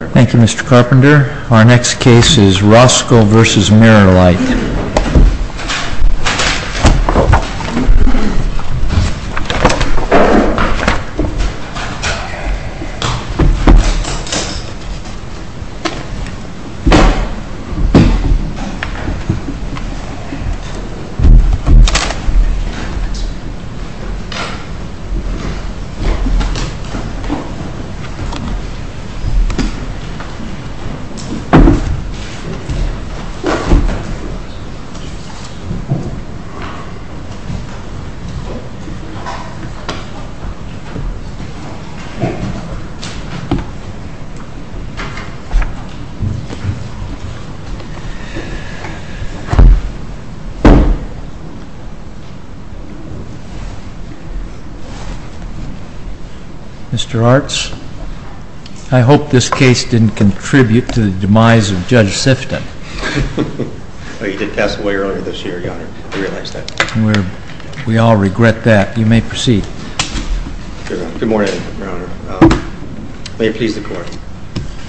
Thank you Mr. Carpenter. Our next case is ROSCO v. MIRROR LITE. Mr. Arts. I hope this case didn't contribute to the demise of Judge Sifton. We all regret that. You may proceed. Good morning, Your Honor. May it please the Court.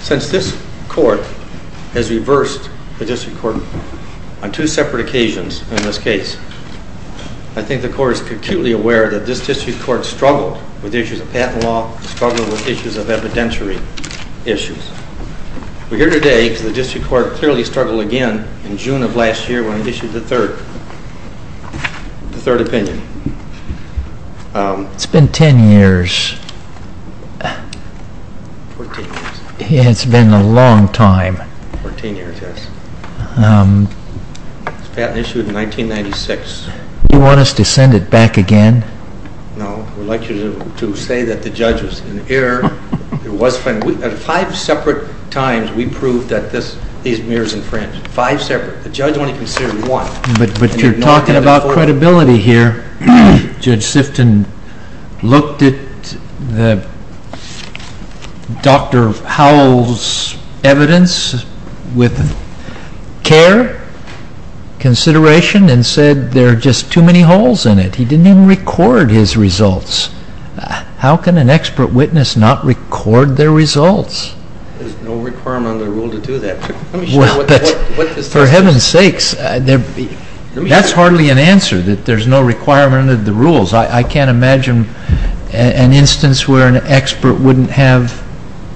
Since this Court has reversed the District Court on two separate occasions in this case, I think the Court is acutely aware that this District Court struggled with issues of patent law, struggled with issues of evidentiary issues. We're here today because the District Court clearly struggled again in June of last year when it issued the third opinion. It's been ten years. It's been a long time. It was patent issued in 1996. Do you want us to send it back again? No. We'd like you to say that the Judge was in error. At five separate times, we proved that these mirrors infringed. Five separate. The Judge only considered one. But you're talking about credibility here. Judge Sifton looked at Dr. Howell's evidence with care, consideration, and said there are just too many holes in it. He didn't even record his results. How can an expert witness not record their results? There's no requirement under the rule to do that. For heaven's sakes, that's hardly an answer that there's no requirement under the rules. I can't imagine an instance where an expert wouldn't have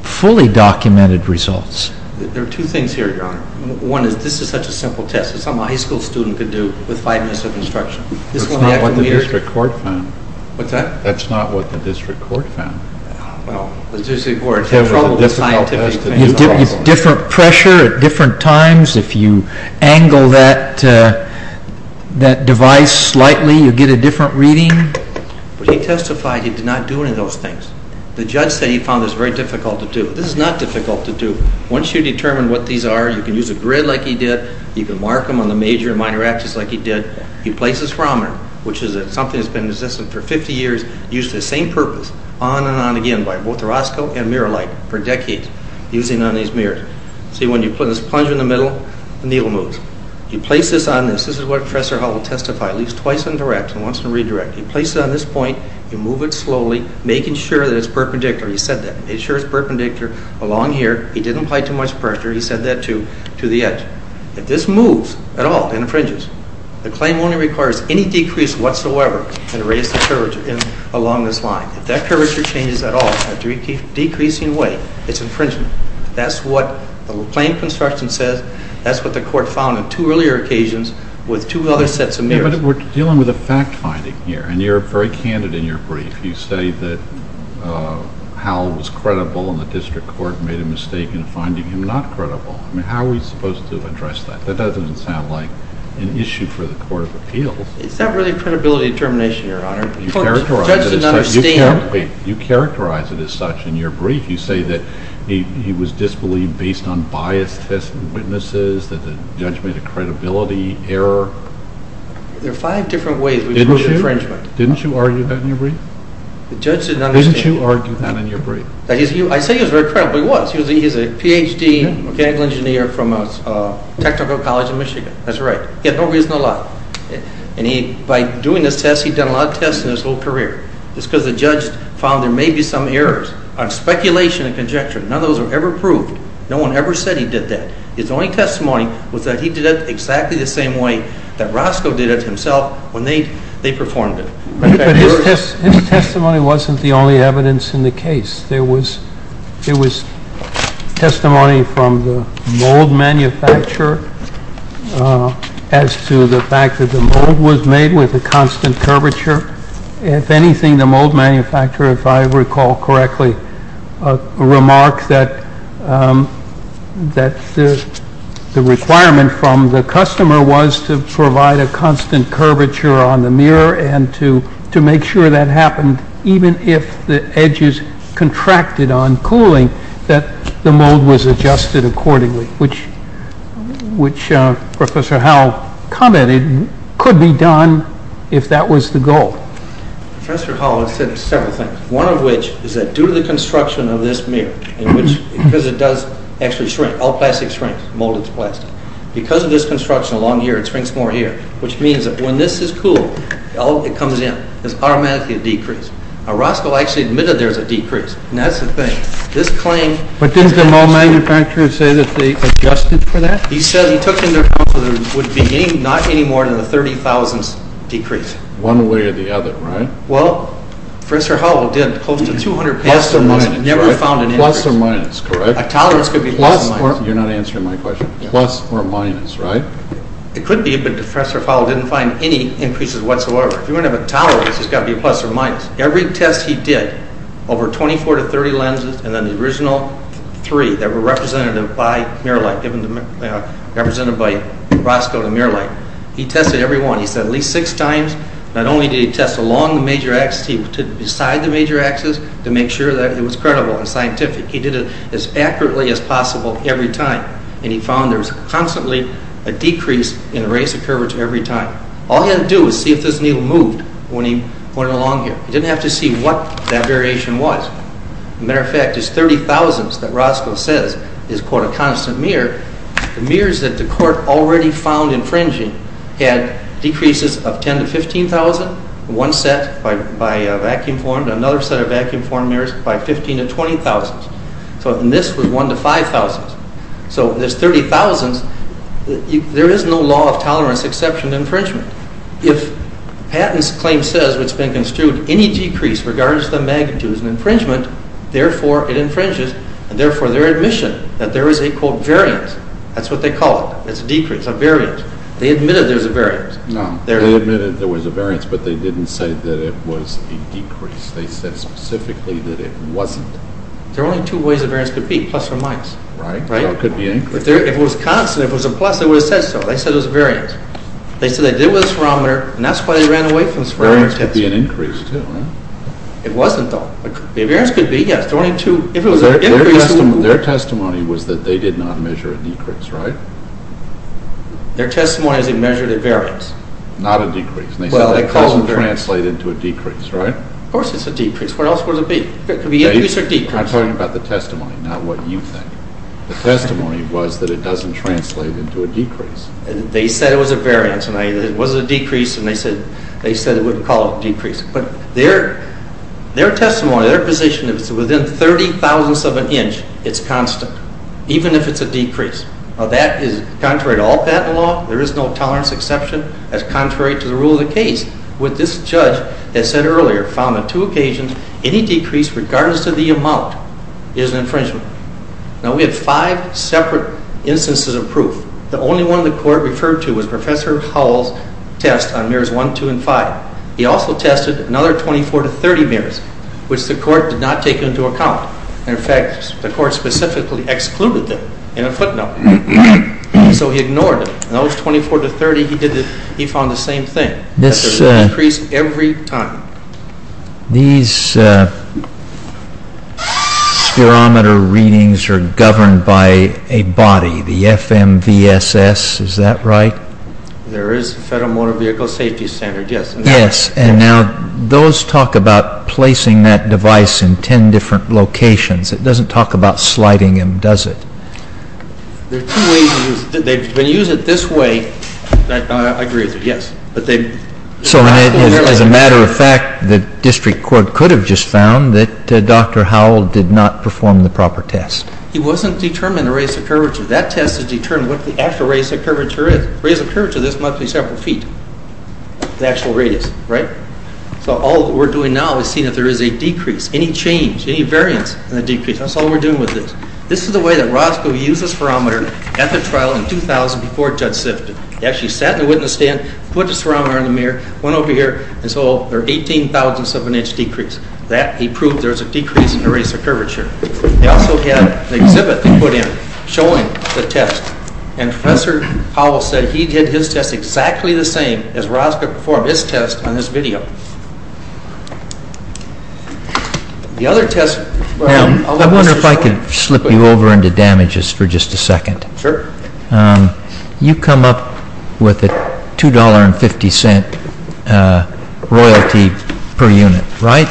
fully documented results. There are two things here, Your Honor. One is this is such a simple test. It's something a high school student could do with five minutes of instruction. That's not what the District Court found. What's that? That's not what the District Court found. Well, the District Court had trouble with scientific things. Different pressure at different times. If you angle that device slightly, you get a different reading. But he testified he did not do any of those things. The Judge said he found this very difficult to do. This is not difficult to do. Once you determine what these are, you can use a grid like he did. You can mark them on the major and minor axes like he did. He placed this thermometer, which is something that's been in existence for 50 years, used for the same purpose, on and on again, by both Orozco and Miralite, for decades, using on these mirrors. See, when you put this plunger in the middle, the needle moves. You place this on this. This is what Professor Howell testified. At least twice on direct and once on redirect. You place it on this point. You move it slowly, making sure that it's perpendicular. He said that. Make sure it's perpendicular along here. He didn't apply too much pressure. He said that to the edge. If this moves at all, then it fringes. The claim only requires any decrease whatsoever in the radius of curvature along this line. If that curvature changes at all in a decreasing way, it's infringement. That's what the claim construction says. That's what the court found on two earlier occasions with two other sets of mirrors. Yeah, but we're dealing with a fact finding here, and you're very candid in your brief. You say that Howell was credible and the district court made a mistake in finding him not credible. I mean, how are we supposed to address that? That doesn't sound like an issue for the Court of Appeals. It's not really credibility determination, Your Honor. The judge didn't understand. You characterize it as such in your brief. You say that he was disbelieved based on biased test witnesses, that the judge made a credibility error. There are five different ways we can do infringement. Didn't you argue that in your brief? The judge didn't understand. Didn't you argue that in your brief? I say he was very credible. He was. He's a Ph.D. mechanical engineer from a technical college in Michigan. That's right. He had no reason to lie. And by doing this test, he'd done a lot of tests in his whole career. It's because the judge found there may be some errors on speculation and conjecture. None of those were ever proved. No one ever said he did that. His only testimony was that he did it exactly the same way that Roscoe did it himself when they performed it. But his testimony wasn't the only evidence in the case. There was testimony from the mold manufacturer as to the fact that the mold was made with a constant curvature. If anything, the mold manufacturer, if I recall correctly, remarked that the requirement from the customer was to provide a constant curvature on the mirror and to make sure that happened even if the edges contracted on cooling, that the mold was adjusted accordingly, which Professor Howell commented could be done if that was the goal. Professor Howell has said several things, one of which is that due to the construction of this mirror, because it does actually shrink, all plastic shrinks, molded plastic, because of this construction along here, it shrinks more here, which means that when this is cooled, it comes in. It's automatically a decrease. Roscoe actually admitted there's a decrease, and that's the thing. But didn't the mold manufacturer say that they adjusted for that? He said he took into account that there would be not any more than a 30,000th decrease. One way or the other, right? Well, Professor Howell did close to 200,000. Plus or minus, correct? A tolerance could be plus or minus. You're not answering my question. Plus or minus, right? It could be, but Professor Howell didn't find any increases whatsoever. If you want to have a tolerance, it's got to be plus or minus. Every test he did, over 24 to 30 lenses, and then the original three that were represented by Roscoe to MirrorLite, he tested every one. He said at least six times, not only did he test along the major axis, he did it beside the major axis to make sure that it was credible and scientific. He did it as accurately as possible every time, and he found there was constantly a decrease in the rays of curvature every time. All he had to do was see if this needle moved when he went along here. He didn't have to see what that variation was. As a matter of fact, this 30,000th that Roscoe says is, quote, a constant mirror, the mirrors that the court already found infringing had decreases of 10,000 to 15,000, one set by vacuum-formed, another set of vacuum-formed mirrors by 15,000 to 20,000. And this was 1,000 to 5,000. So this 30,000th, there is no law of tolerance exception infringement. If Patton's claim says what's been construed, any decrease regardless of the magnitude is an infringement, therefore it infringes, and therefore their admission that there is a, quote, variance. That's what they call it. It's a decrease, a variance. They admitted there's a variance. They admitted there was a variance, but they didn't say that it was a decrease. They said specifically that it wasn't. There are only two ways a variance could be, plus or minus. Right, so it could be an increase. If it was constant, if it was a plus, they would have said so. They said it was a variance. They said they did it with a spherometer, and that's why they ran away from the spherometer test. A variance could be an increase, too. It wasn't, though. A variance could be, yes. Their testimony was that they did not measure a decrease, right? Their testimony is they measured a variance. Not a decrease. Well, they called it a variance. It doesn't translate into a decrease, right? Of course it's a decrease. What else would it be? It could be increase or decrease. Dave, I'm talking about the testimony, not what you think. The testimony was that it doesn't translate into a decrease. They said it was a variance, and it was a decrease, and they said they wouldn't call it a decrease. But their testimony, their position, if it's within 30 thousandths of an inch, it's constant, even if it's a decrease. Now, that is contrary to all patent law. There is no tolerance exception. That's contrary to the rule of the case. With this judge that said earlier, found on two occasions any decrease regardless of the amount is an infringement. Now, we have five separate instances of proof. The only one the court referred to was Professor Howell's test on mirrors 1, 2, and 5. He also tested another 24 to 30 mirrors, which the court did not take into account. And, in fact, the court specifically excluded them in a footnote. So he ignored them. And those 24 to 30, he found the same thing. That there is a decrease every time. These spherometer readings are governed by a body, the FMVSS, is that right? There is a Federal Motor Vehicle Safety Standard, yes. Yes, and now those talk about placing that device in ten different locations. It doesn't talk about sliding them, does it? There are two ways to use it. They use it this way. I agree with you, yes. So, as a matter of fact, the district court could have just found that Dr. Howell did not perform the proper test. He wasn't determined the radius of curvature. That test has determined what the actual radius of curvature is. The radius of curvature, this must be several feet, the actual radius, right? So all that we're doing now is seeing if there is a decrease, any change, any variance in the decrease. That's all we're doing with this. This is the way that Roscoe used the spherometer at the trial in 2000 before Judge Sifton. He actually sat in the witness stand, put the spherometer in the mirror, went over here, and saw there were 18 thousandths of an inch decrease. That, he proved there was a decrease in the radius of curvature. They also had an exhibit they put in showing the test. And Professor Howell said he did his test exactly the same as Roscoe performed his test on this video. The other test... Now, I wonder if I could slip you over into damages for just a second. Sure. You come up with a $2.50 royalty per unit, right?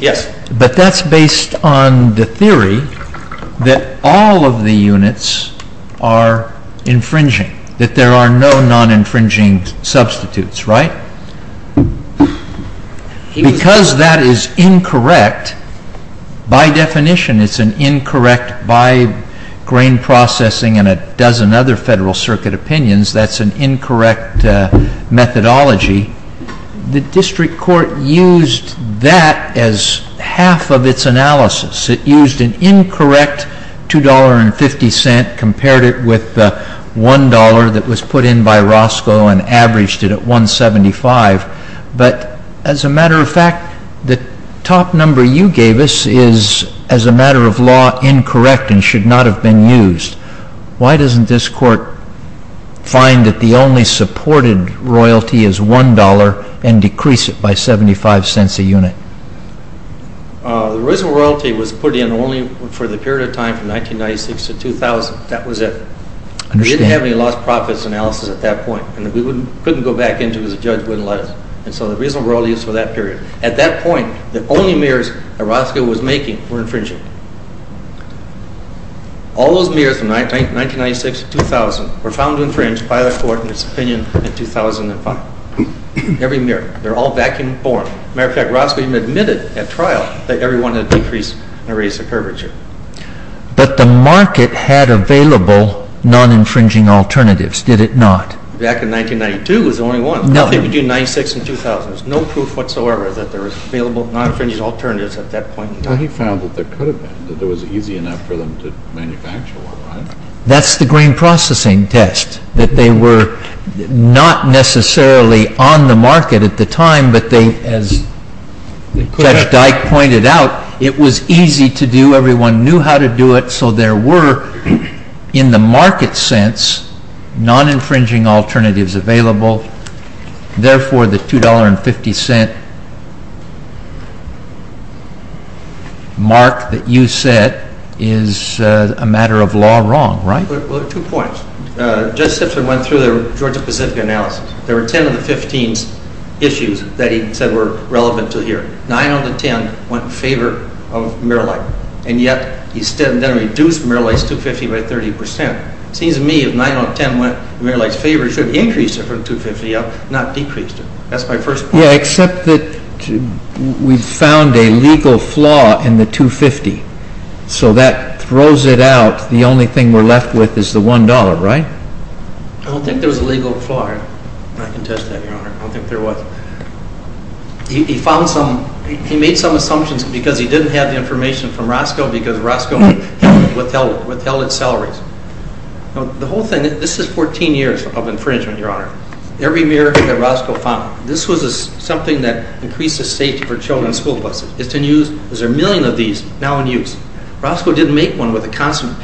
Yes. But that's based on the theory that all of the units are infringing, that there are no non-infringing substitutes, right? Because that is incorrect, by definition it's an incorrect, by grain processing and a dozen other Federal Circuit opinions, that's an incorrect methodology. The District Court used that as half of its analysis. It used an incorrect $2.50, compared it with the $1.00 that was put in by Roscoe and averaged it at $1.75. But, as a matter of fact, the top number you gave us is, as a matter of law, incorrect and should not have been used. Why doesn't this Court find that the only supported royalty is $1.00 and decrease it by $0.75 a unit? The original royalty was put in only for the period of time from 1996 to 2000, that was it. We didn't have any lost profits analysis at that point and we couldn't go back into it as a judge wouldn't let us. And so the original royalty is for that period. At that point, the only mirrors that Roscoe was making were infringing. All those mirrors from 1996 to 2000 were found to infringe by the Court in its opinion in 2005. Every mirror, they're all vacuum-borne. As a matter of fact, Roscoe even admitted at trial that everyone had decreased and raised the curvature. But the market had available non-infringing alternatives, did it not? Back in 1992 was the only one. No. Nothing between 1996 and 2000. There was no proof whatsoever that there was available non-infringing alternatives at that point in time. Well, he found that there could have been, that it was easy enough for them to manufacture one, right? That's the grain processing test, that they were not necessarily on the market at the time, but they, as Judge Dyke pointed out, it was easy to do. Everyone knew how to do it, so there were, in the market sense, non-infringing alternatives available. Therefore, the $2.50 mark that you set is a matter of law wrong, right? Well, there are two points. Judge Simpson went through the Georgia-Pacific analysis. There were 10 of the 15 issues that he said were relevant to here. Nine out of the 10 went in favor of mirror light, and yet he then reduced mirror light's 250 by 30%. It seems to me if nine out of 10 went in mirror light's favor, he should have increased it from 250 up, not decreased it. That's my first point. Yeah, except that we found a legal flaw in the 250, so that throws it out. The only thing we're left with is the $1, right? I don't think there was a legal flaw. I can attest to that, Your Honor. I don't think there was. He made some assumptions because he didn't have the information from Roscoe, because Roscoe withheld its salaries. Now, the whole thing, this is 14 years of infringement, Your Honor. Every mirror that Roscoe found, this was something that increased the safety for children's school buses. It's in use. There's a million of these now in use. Roscoe didn't make one with a constant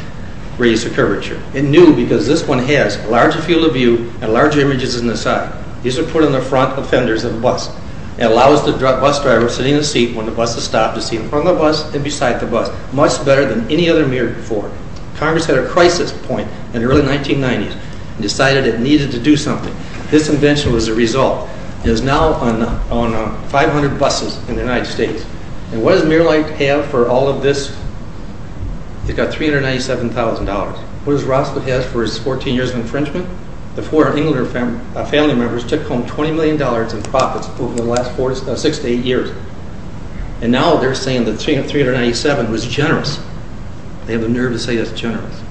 radius of curvature. It knew because this one has a larger field of view and larger images in the side. These are put on the front of fenders of the bus. It allows the bus driver sitting in the seat when the bus is stopped to see in front of the bus and beside the bus much better than any other mirror before. Congress had a crisis point in the early 1990s and decided it needed to do something. This invention was the result. It is now on 500 buses in the United States. And what does Mirror Light have for all of this? It's got $397,000. What does Roscoe have for his 14 years of infringement? The four Englander family members took home $20 million in profits over the last six to eight years. And now they're saying that $397,000 was generous. They have the nerve to say that's generous.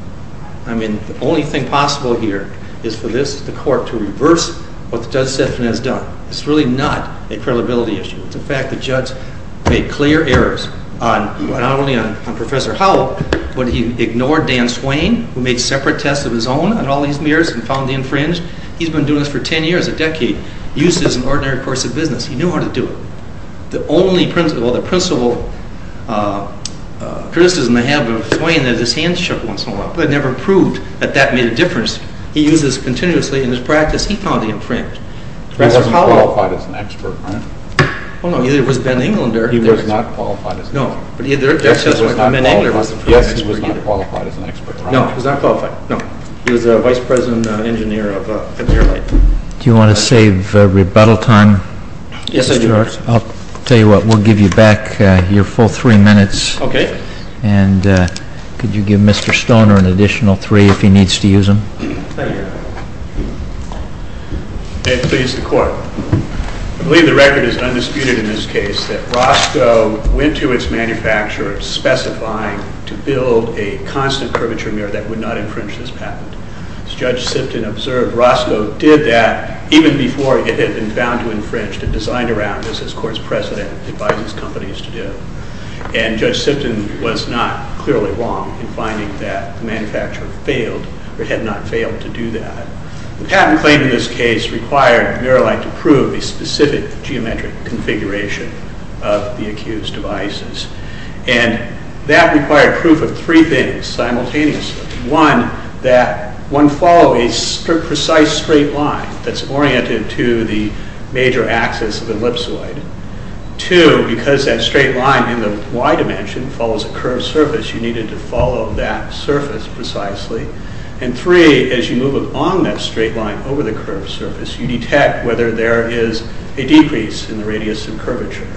I mean, the only thing possible here is for this, the court, to reverse what Judge Stephan has done. It's really not a credibility issue. It's a fact the judge made clear errors not only on Professor Howell, but he ignored Dan Swain, who made separate tests of his own on all these mirrors and found the infringed. He's been doing this for 10 years, a decade. Used it as an ordinary course of business. He knew how to do it. The principal criticism I have of Swain is his hand shook once in a while, but it never proved that that made a difference. He used this continuously in his practice. He found the infringed. He wasn't qualified as an expert, right? Well, no. Either it was Ben Englander. He was not qualified as an expert. No. Yes, he was not qualified as an expert. No, he was not qualified. No. He was the vice president engineer of Mirror Light. Do you want to save rebuttal time? Yes, Judge. I'll tell you what. We'll give you back your full three minutes. Okay. And could you give Mr. Stoner an additional three if he needs to use them? Thank you, Your Honor. May it please the Court. I believe the record is undisputed in this case that Roscoe went to its manufacturer specifying to build a constant curvature mirror that would not infringe this patent. As Judge Sipton observed, Roscoe did that even before it had been found to have infringed and designed around this, as court's precedent advises companies to do. And Judge Sipton was not clearly wrong in finding that the manufacturer failed or had not failed to do that. The patent claim in this case required Mirror Light to prove a specific geometric configuration of the accused devices. And that required proof of three things simultaneously. One, that one follow a precise straight line that's oriented to the major axis of the ellipsoid. Two, because that straight line in the Y dimension follows a curved surface, you needed to follow that surface precisely. And three, as you move along that straight line over the curved surface, you detect whether there is a decrease in the radius of curvature.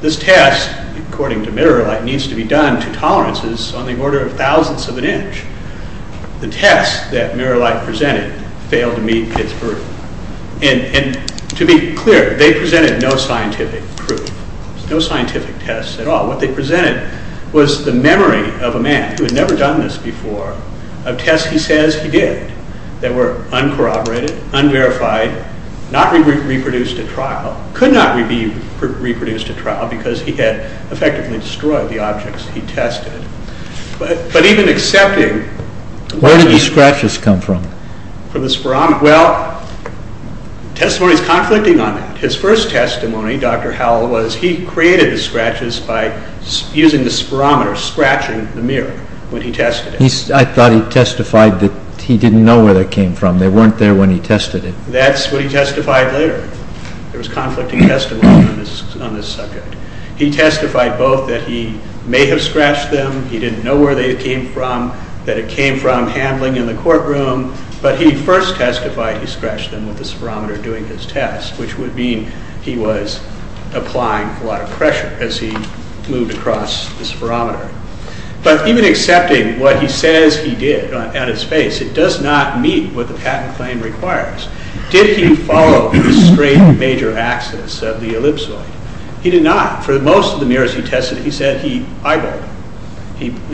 This test, according to Mirror Light, needs to be done to tolerances on the order of thousandths of an inch. The tests that Mirror Light presented failed to meet its burden. And to be clear, they presented no scientific proof, no scientific tests at all. What they presented was the memory of a man who had never done this before, of tests he says he did, that were uncorroborated, unverified, not reproduced at trial. Could not be reproduced at trial because he had effectively destroyed the objects he tested. But even accepting... Where did the scratches come from? Well, testimony is conflicting on that. His first testimony, Dr. Howell, was he created the scratches by using the spirometer, scratching the mirror when he tested it. I thought he testified that he didn't know where they came from. They weren't there when he tested it. That's what he testified later. There was conflicting testimony on this subject. He testified both that he may have scratched them, he didn't know where they came from, that it came from handling in the courtroom. But he first testified he scratched them with the spirometer doing his test, which would mean he was applying a lot of pressure as he moved across the spirometer. But even accepting what he says he did at his face, it does not meet what the patent claim requires. Did he follow the straight major axis of the ellipsoid? He did not. For most of the mirrors he tested, he said he eyeballed them.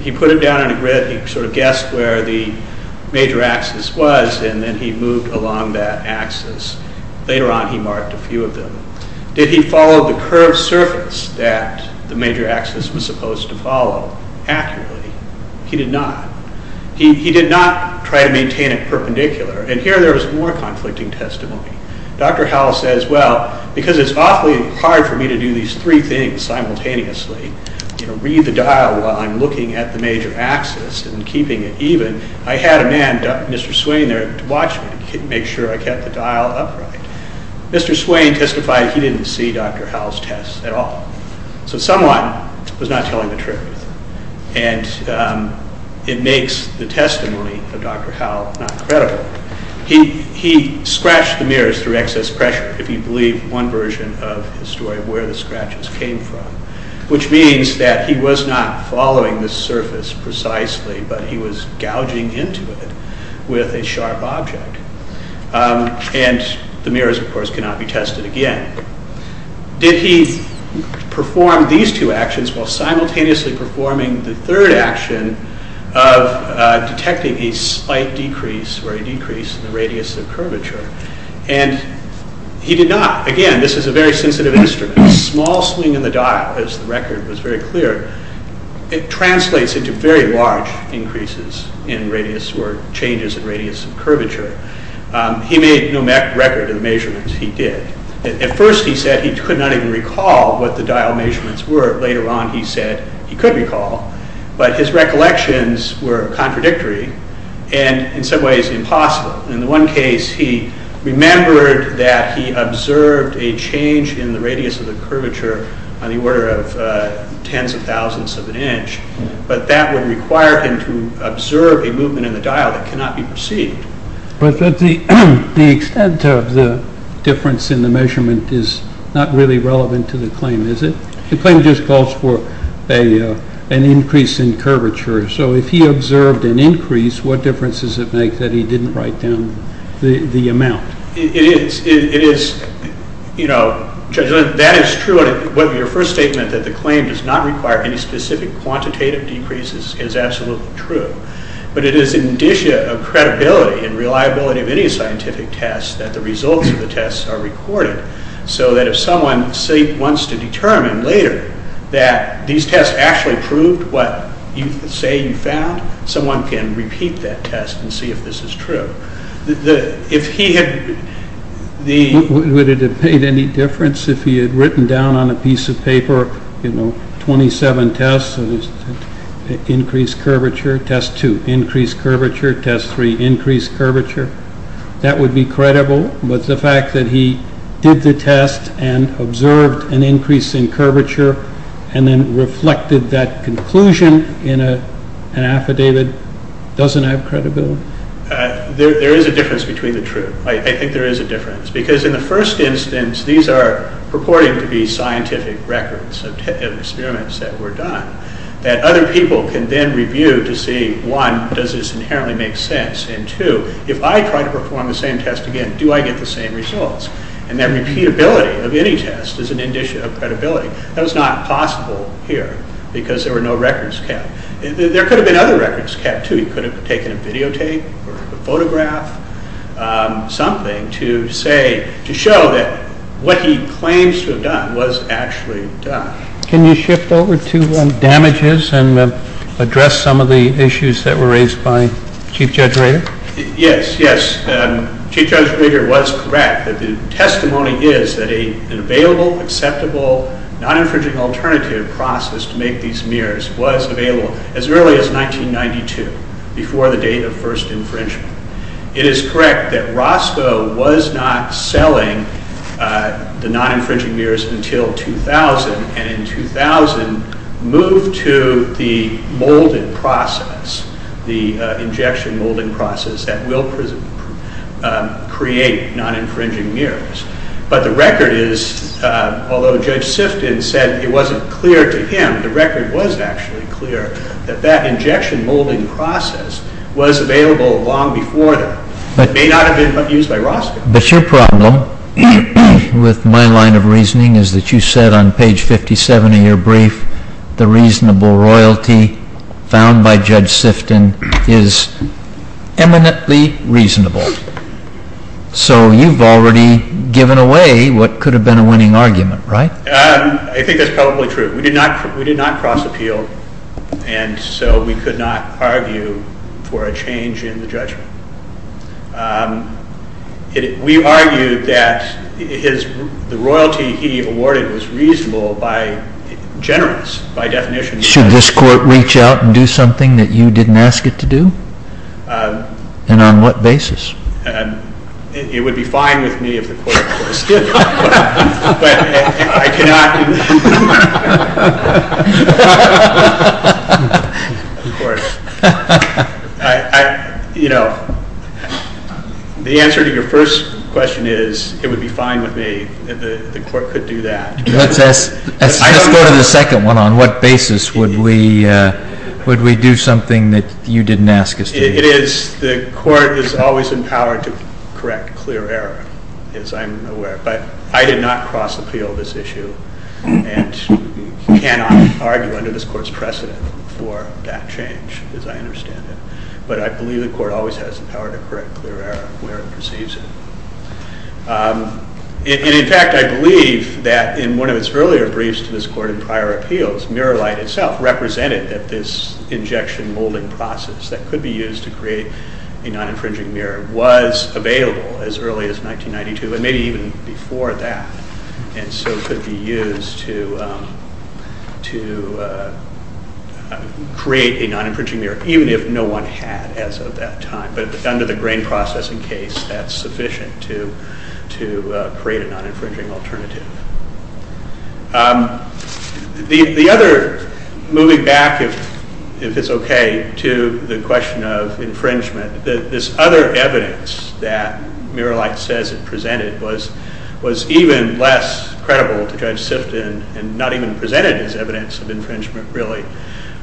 He put them down on a grid, he sort of guessed where the major axis was, and then he moved along that axis. Later on he marked a few of them. Did he follow the curved surface that the major axis was supposed to follow accurately? He did not. He did not try to maintain it perpendicular. And here there was more conflicting testimony. Dr. Howell says, well, because it's awfully hard for me to do these three things simultaneously, read the dial while I'm looking at the major axis and keeping it even, I had a man, Mr. Swain, there to watch me and make sure I kept the dial upright. Mr. Swain testified he didn't see Dr. Howell's tests at all. So someone was not telling the truth. And it makes the testimony of Dr. Howell not credible. He scratched the mirrors through excess pressure, if you believe one version of his story, where the scratches came from. Which means that he was not following the surface precisely, but he was gouging into it with a sharp object. And the mirrors, of course, cannot be tested again. Did he perform these two actions while simultaneously performing the third action of detecting a slight decrease or a decrease in the radius of curvature? And he did not. Again, this is a very sensitive instrument. A small swing in the dial, as the record was very clear, it translates into very large increases in radius or changes in radius of curvature. He made no record of the measurements he did. At first he said he could not even recall what the dial measurements were. Later on he said he could recall. But his recollections were contradictory and in some ways impossible. In the one case he remembered that he observed a change in the radius of the curvature on the order of tens of thousands of an inch. But that would require him to observe a movement in the dial that cannot be perceived. But the extent of the difference in the measurement is not really relevant to the claim, is it? The claim just calls for an increase in curvature. So if he observed an increase, what difference does it make that he didn't write down the amount? That is true. Your first statement that the claim does not require any specific quantitative decrease is absolutely true. But it is an indicia of credibility and reliability of any scientific test that the results of the test are recorded so that if someone wants to determine later that these tests actually proved what you say you found, someone can repeat that test and see if this is true. Would it have made any difference if he had written down on a piece of paper 27 tests, increase curvature, test 2, increase curvature, test 3, increase curvature? That would be credible. But the fact that he did the test and observed an increase in curvature and then reflected that conclusion in an affidavit doesn't have credibility. There is a difference between the two. I think there is a difference. Because in the first instance, these are purporting to be scientific records of experiments that were done that other people can then review to see, one, does this inherently make sense? And two, if I try to perform the same test again, do I get the same results? And that repeatability of any test is an indicia of credibility. That was not possible here because there were no records kept. There could have been other records kept too. You could have taken a videotape or a photograph, something to say, to show that what he claims to have done was actually done. Can you shift over to damages and address some of the issues that were raised by Chief Judge Rader? Yes, yes. Chief Judge Rader was correct. The testimony is that an available, acceptable, non-infringing alternative process to make these mirrors was available as early as 1992, before the date of first infringement. It is correct that Roscoe was not selling the non-infringing mirrors until 2000, and in 2000 moved to the molding process, the injection molding process, that will create non-infringing mirrors. But the record is, although Judge Sifton said it wasn't clear to him, the record was actually clear that that injection molding process was available long before that. It may not have been used by Roscoe. But your problem with my line of reasoning is that you said on page 57 of your brief, the reasonable royalty found by Judge Sifton is eminently reasonable. So you've already given away what could have been a winning argument, right? I think that's probably true. We did not cross-appeal, and so we could not argue for a change in the judgment. We argued that the royalty he awarded was reasonable by generous, by definition. Should this court reach out and do something that you didn't ask it to do? And on what basis? It would be fine with me if the court did it. But I cannot. Of course. You know, the answer to your first question is it would be fine with me if the court could do that. Let's go to the second one. On what basis would we do something that you didn't ask us to do? It is the court is always empowered to correct clear error, as I'm aware of. But I did not cross-appeal this issue and cannot argue under this court's precedent for that change, as I understand it. But I believe the court always has the power to correct clear error where it perceives it. In fact, I believe that in one of its earlier briefs to this court in prior appeals, Mirror Light itself represented that this injection molding process that could be used to create a non-infringing mirror was available as early as 1992, and maybe even before that, and so could be used to create a non-infringing mirror, even if no one had as of that time. But under the grain processing case, that's sufficient to create a non-infringing alternative. Moving back, if it's okay, to the question of infringement, this other evidence that Mirror Light says it presented was even less credible to Judge Sifton and not even presented as evidence of infringement, really,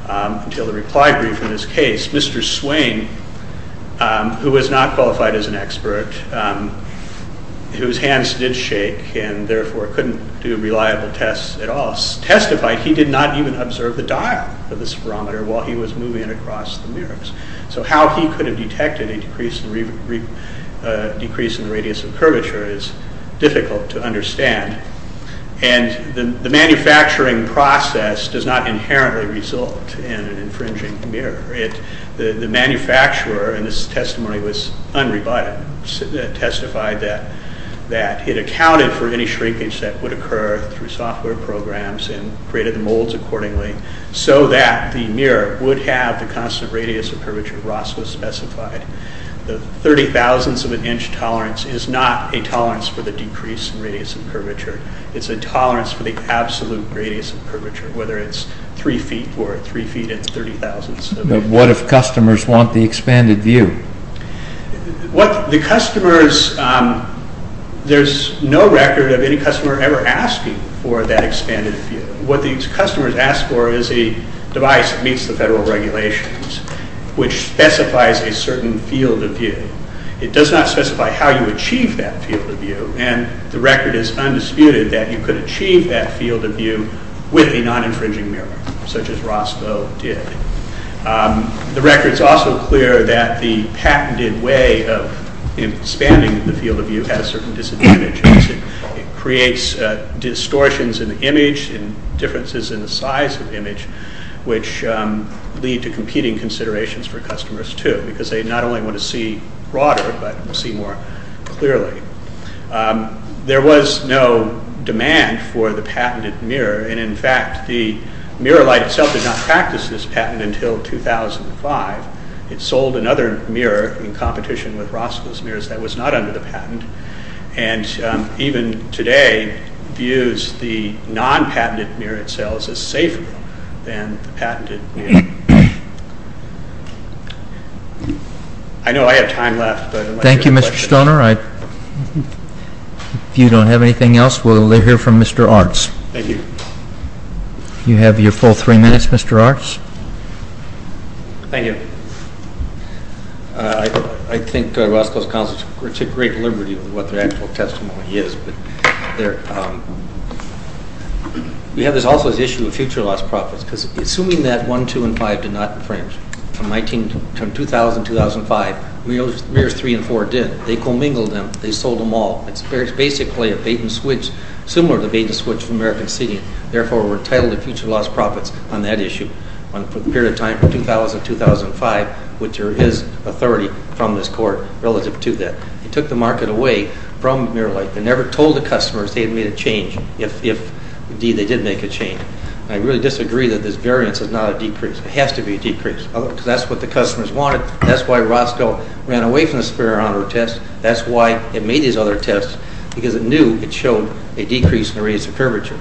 until the reply brief in this case. Mr. Swain, who was not qualified as an expert, whose hands did shake and therefore couldn't do reliable tests at all, testified he did not even observe the dial of the spherometer while he was moving it across the mirrors. So how he could have detected a decrease in the radius of curvature is difficult to understand. The manufacturing process does not inherently result in an infringing mirror. The manufacturer in this testimony was unrebutted. It testified that it accounted for any shrinkage that would occur through software programs and created the molds accordingly so that the mirror would have the constant radius of curvature Roscoe specified. The 30 thousandths of an inch tolerance is not a tolerance for the decrease in radius of curvature. It's a tolerance for the absolute radius of curvature, whether it's 3 feet or 3 feet and 30 thousandths. What if customers want the expanded view? There's no record of any customer ever asking for that expanded view. What these customers ask for is a device that meets the federal regulations, which specifies a certain field of view. It does not specify how you achieve that field of view, and the record is undisputed that you could achieve that field of view with a non-infringing mirror, such as Roscoe did. The record's also clear that the patented way of expanding the field of view has certain disadvantages. It creates distortions in the image and differences in the size of the image, which lead to competing considerations for customers too, because they not only want to see broader, but see more clearly. There was no demand for the patented mirror, and in fact the mirror light itself did not practice this patent until 2005. It sold another mirror in competition with Roscoe's mirrors that was not under the patent, and even today views the non-patented mirror itself as safer than the patented mirror. I know I have time left, but I'd like to ask a question. Thank you, Mr. Stoner. If you don't have anything else, we'll hear from Mr. Arts. Thank you. You have your full three minutes, Mr. Arts. Thank you. I think Roscoe's counsel took great liberty with what their actual testimony is. We have this also as an issue of future lost profits, because assuming that 1, 2, and 5 did not infringe from 2000-2005, mirrors 3 and 4 did. They commingled them. They sold them all. It's basically a bait-and-switch, similar to the bait-and-switch of American City. Therefore, we're entitled to future lost profits on that issue. On the period of time from 2000-2005, which is authority from this court relative to that. They took the market away from mirror-like. They never told the customers they had made a change, if, indeed, they did make a change. I really disagree that this variance is not a decrease. It has to be a decrease, because that's what the customers wanted. That's why Roscoe ran away from the Sperrano test. That's why it made these other tests, because it knew it showed a decrease in the radius of curvature.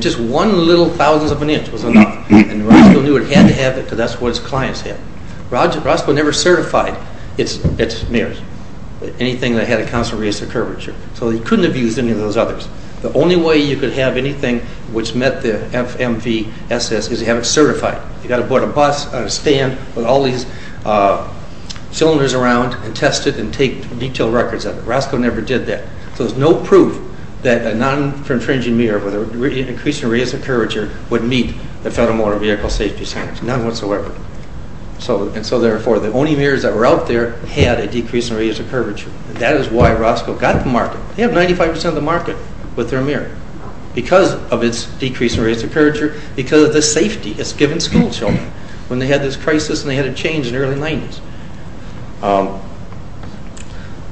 Just one little thousandth of an inch was enough. Roscoe knew it had to have it, because that's what his clients had. Roscoe never certified its mirrors, anything that had a constant radius of curvature. So he couldn't have used any of those others. The only way you could have anything which met the FMVSS is to have it certified. You've got to put a bus on a stand with all these cylinders around and test it and take detailed records of it. Roscoe never did that. So there's no proof that a non-fringing mirror with an increase in radius of curvature would meet the Federal Motor Vehicle Safety Standards. None whatsoever. And so, therefore, the only mirrors that were out there had a decrease in radius of curvature. That is why Roscoe got the market. They have 95 percent of the market with their mirror, because of its decrease in radius of curvature, because of the safety it's given schoolchildren when they had this crisis and they had a change in the early 90s.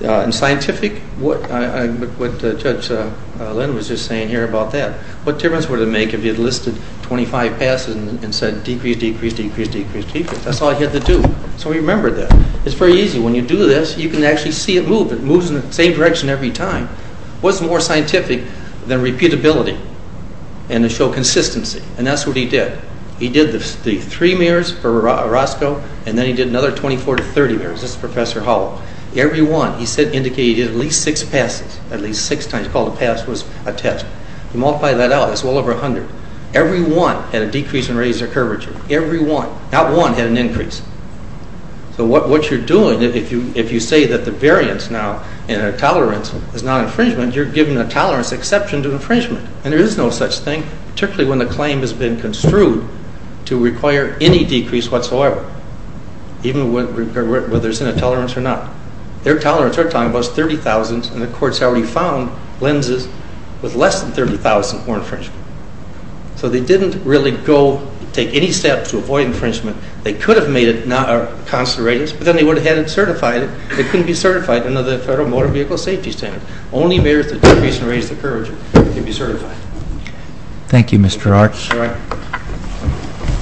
In scientific, what Judge Lynn was just saying here about that, what difference would it make if he had listed 25 passes and said, decrease, decrease, decrease, decrease, decrease. That's all he had to do. So he remembered that. It's very easy. When you do this, you can actually see it move. It moves in the same direction every time. What's more scientific than repeatability and to show consistency? And that's what he did. He did the three mirrors for Roscoe, and then he did another 24 to 30 mirrors. This is Professor Hall. Every one he said indicated at least six passes, at least six times. He called the pass was a test. He multiplied that out. It's well over 100. Every one had a decrease in radius of curvature. Every one. Not one had an increase. So what you're doing, if you say that the variance now in a tolerance is not infringement, you're giving a tolerance exception to infringement. And there is no such thing, particularly when the claim has been construed to require any decrease whatsoever, even whether it's in a tolerance or not. Their tolerance we're talking about is 30,000, and the courts have already found lenses with less than 30,000 for infringement. So they didn't really go take any steps to avoid infringement. They could have made it a constant radius, but then they would have had it certified. It couldn't be certified under the Federal Motor Vehicle Safety Standards. Only if there is a decrease in radius of curvature can it be certified. Thank you, Mr. Arch. All right.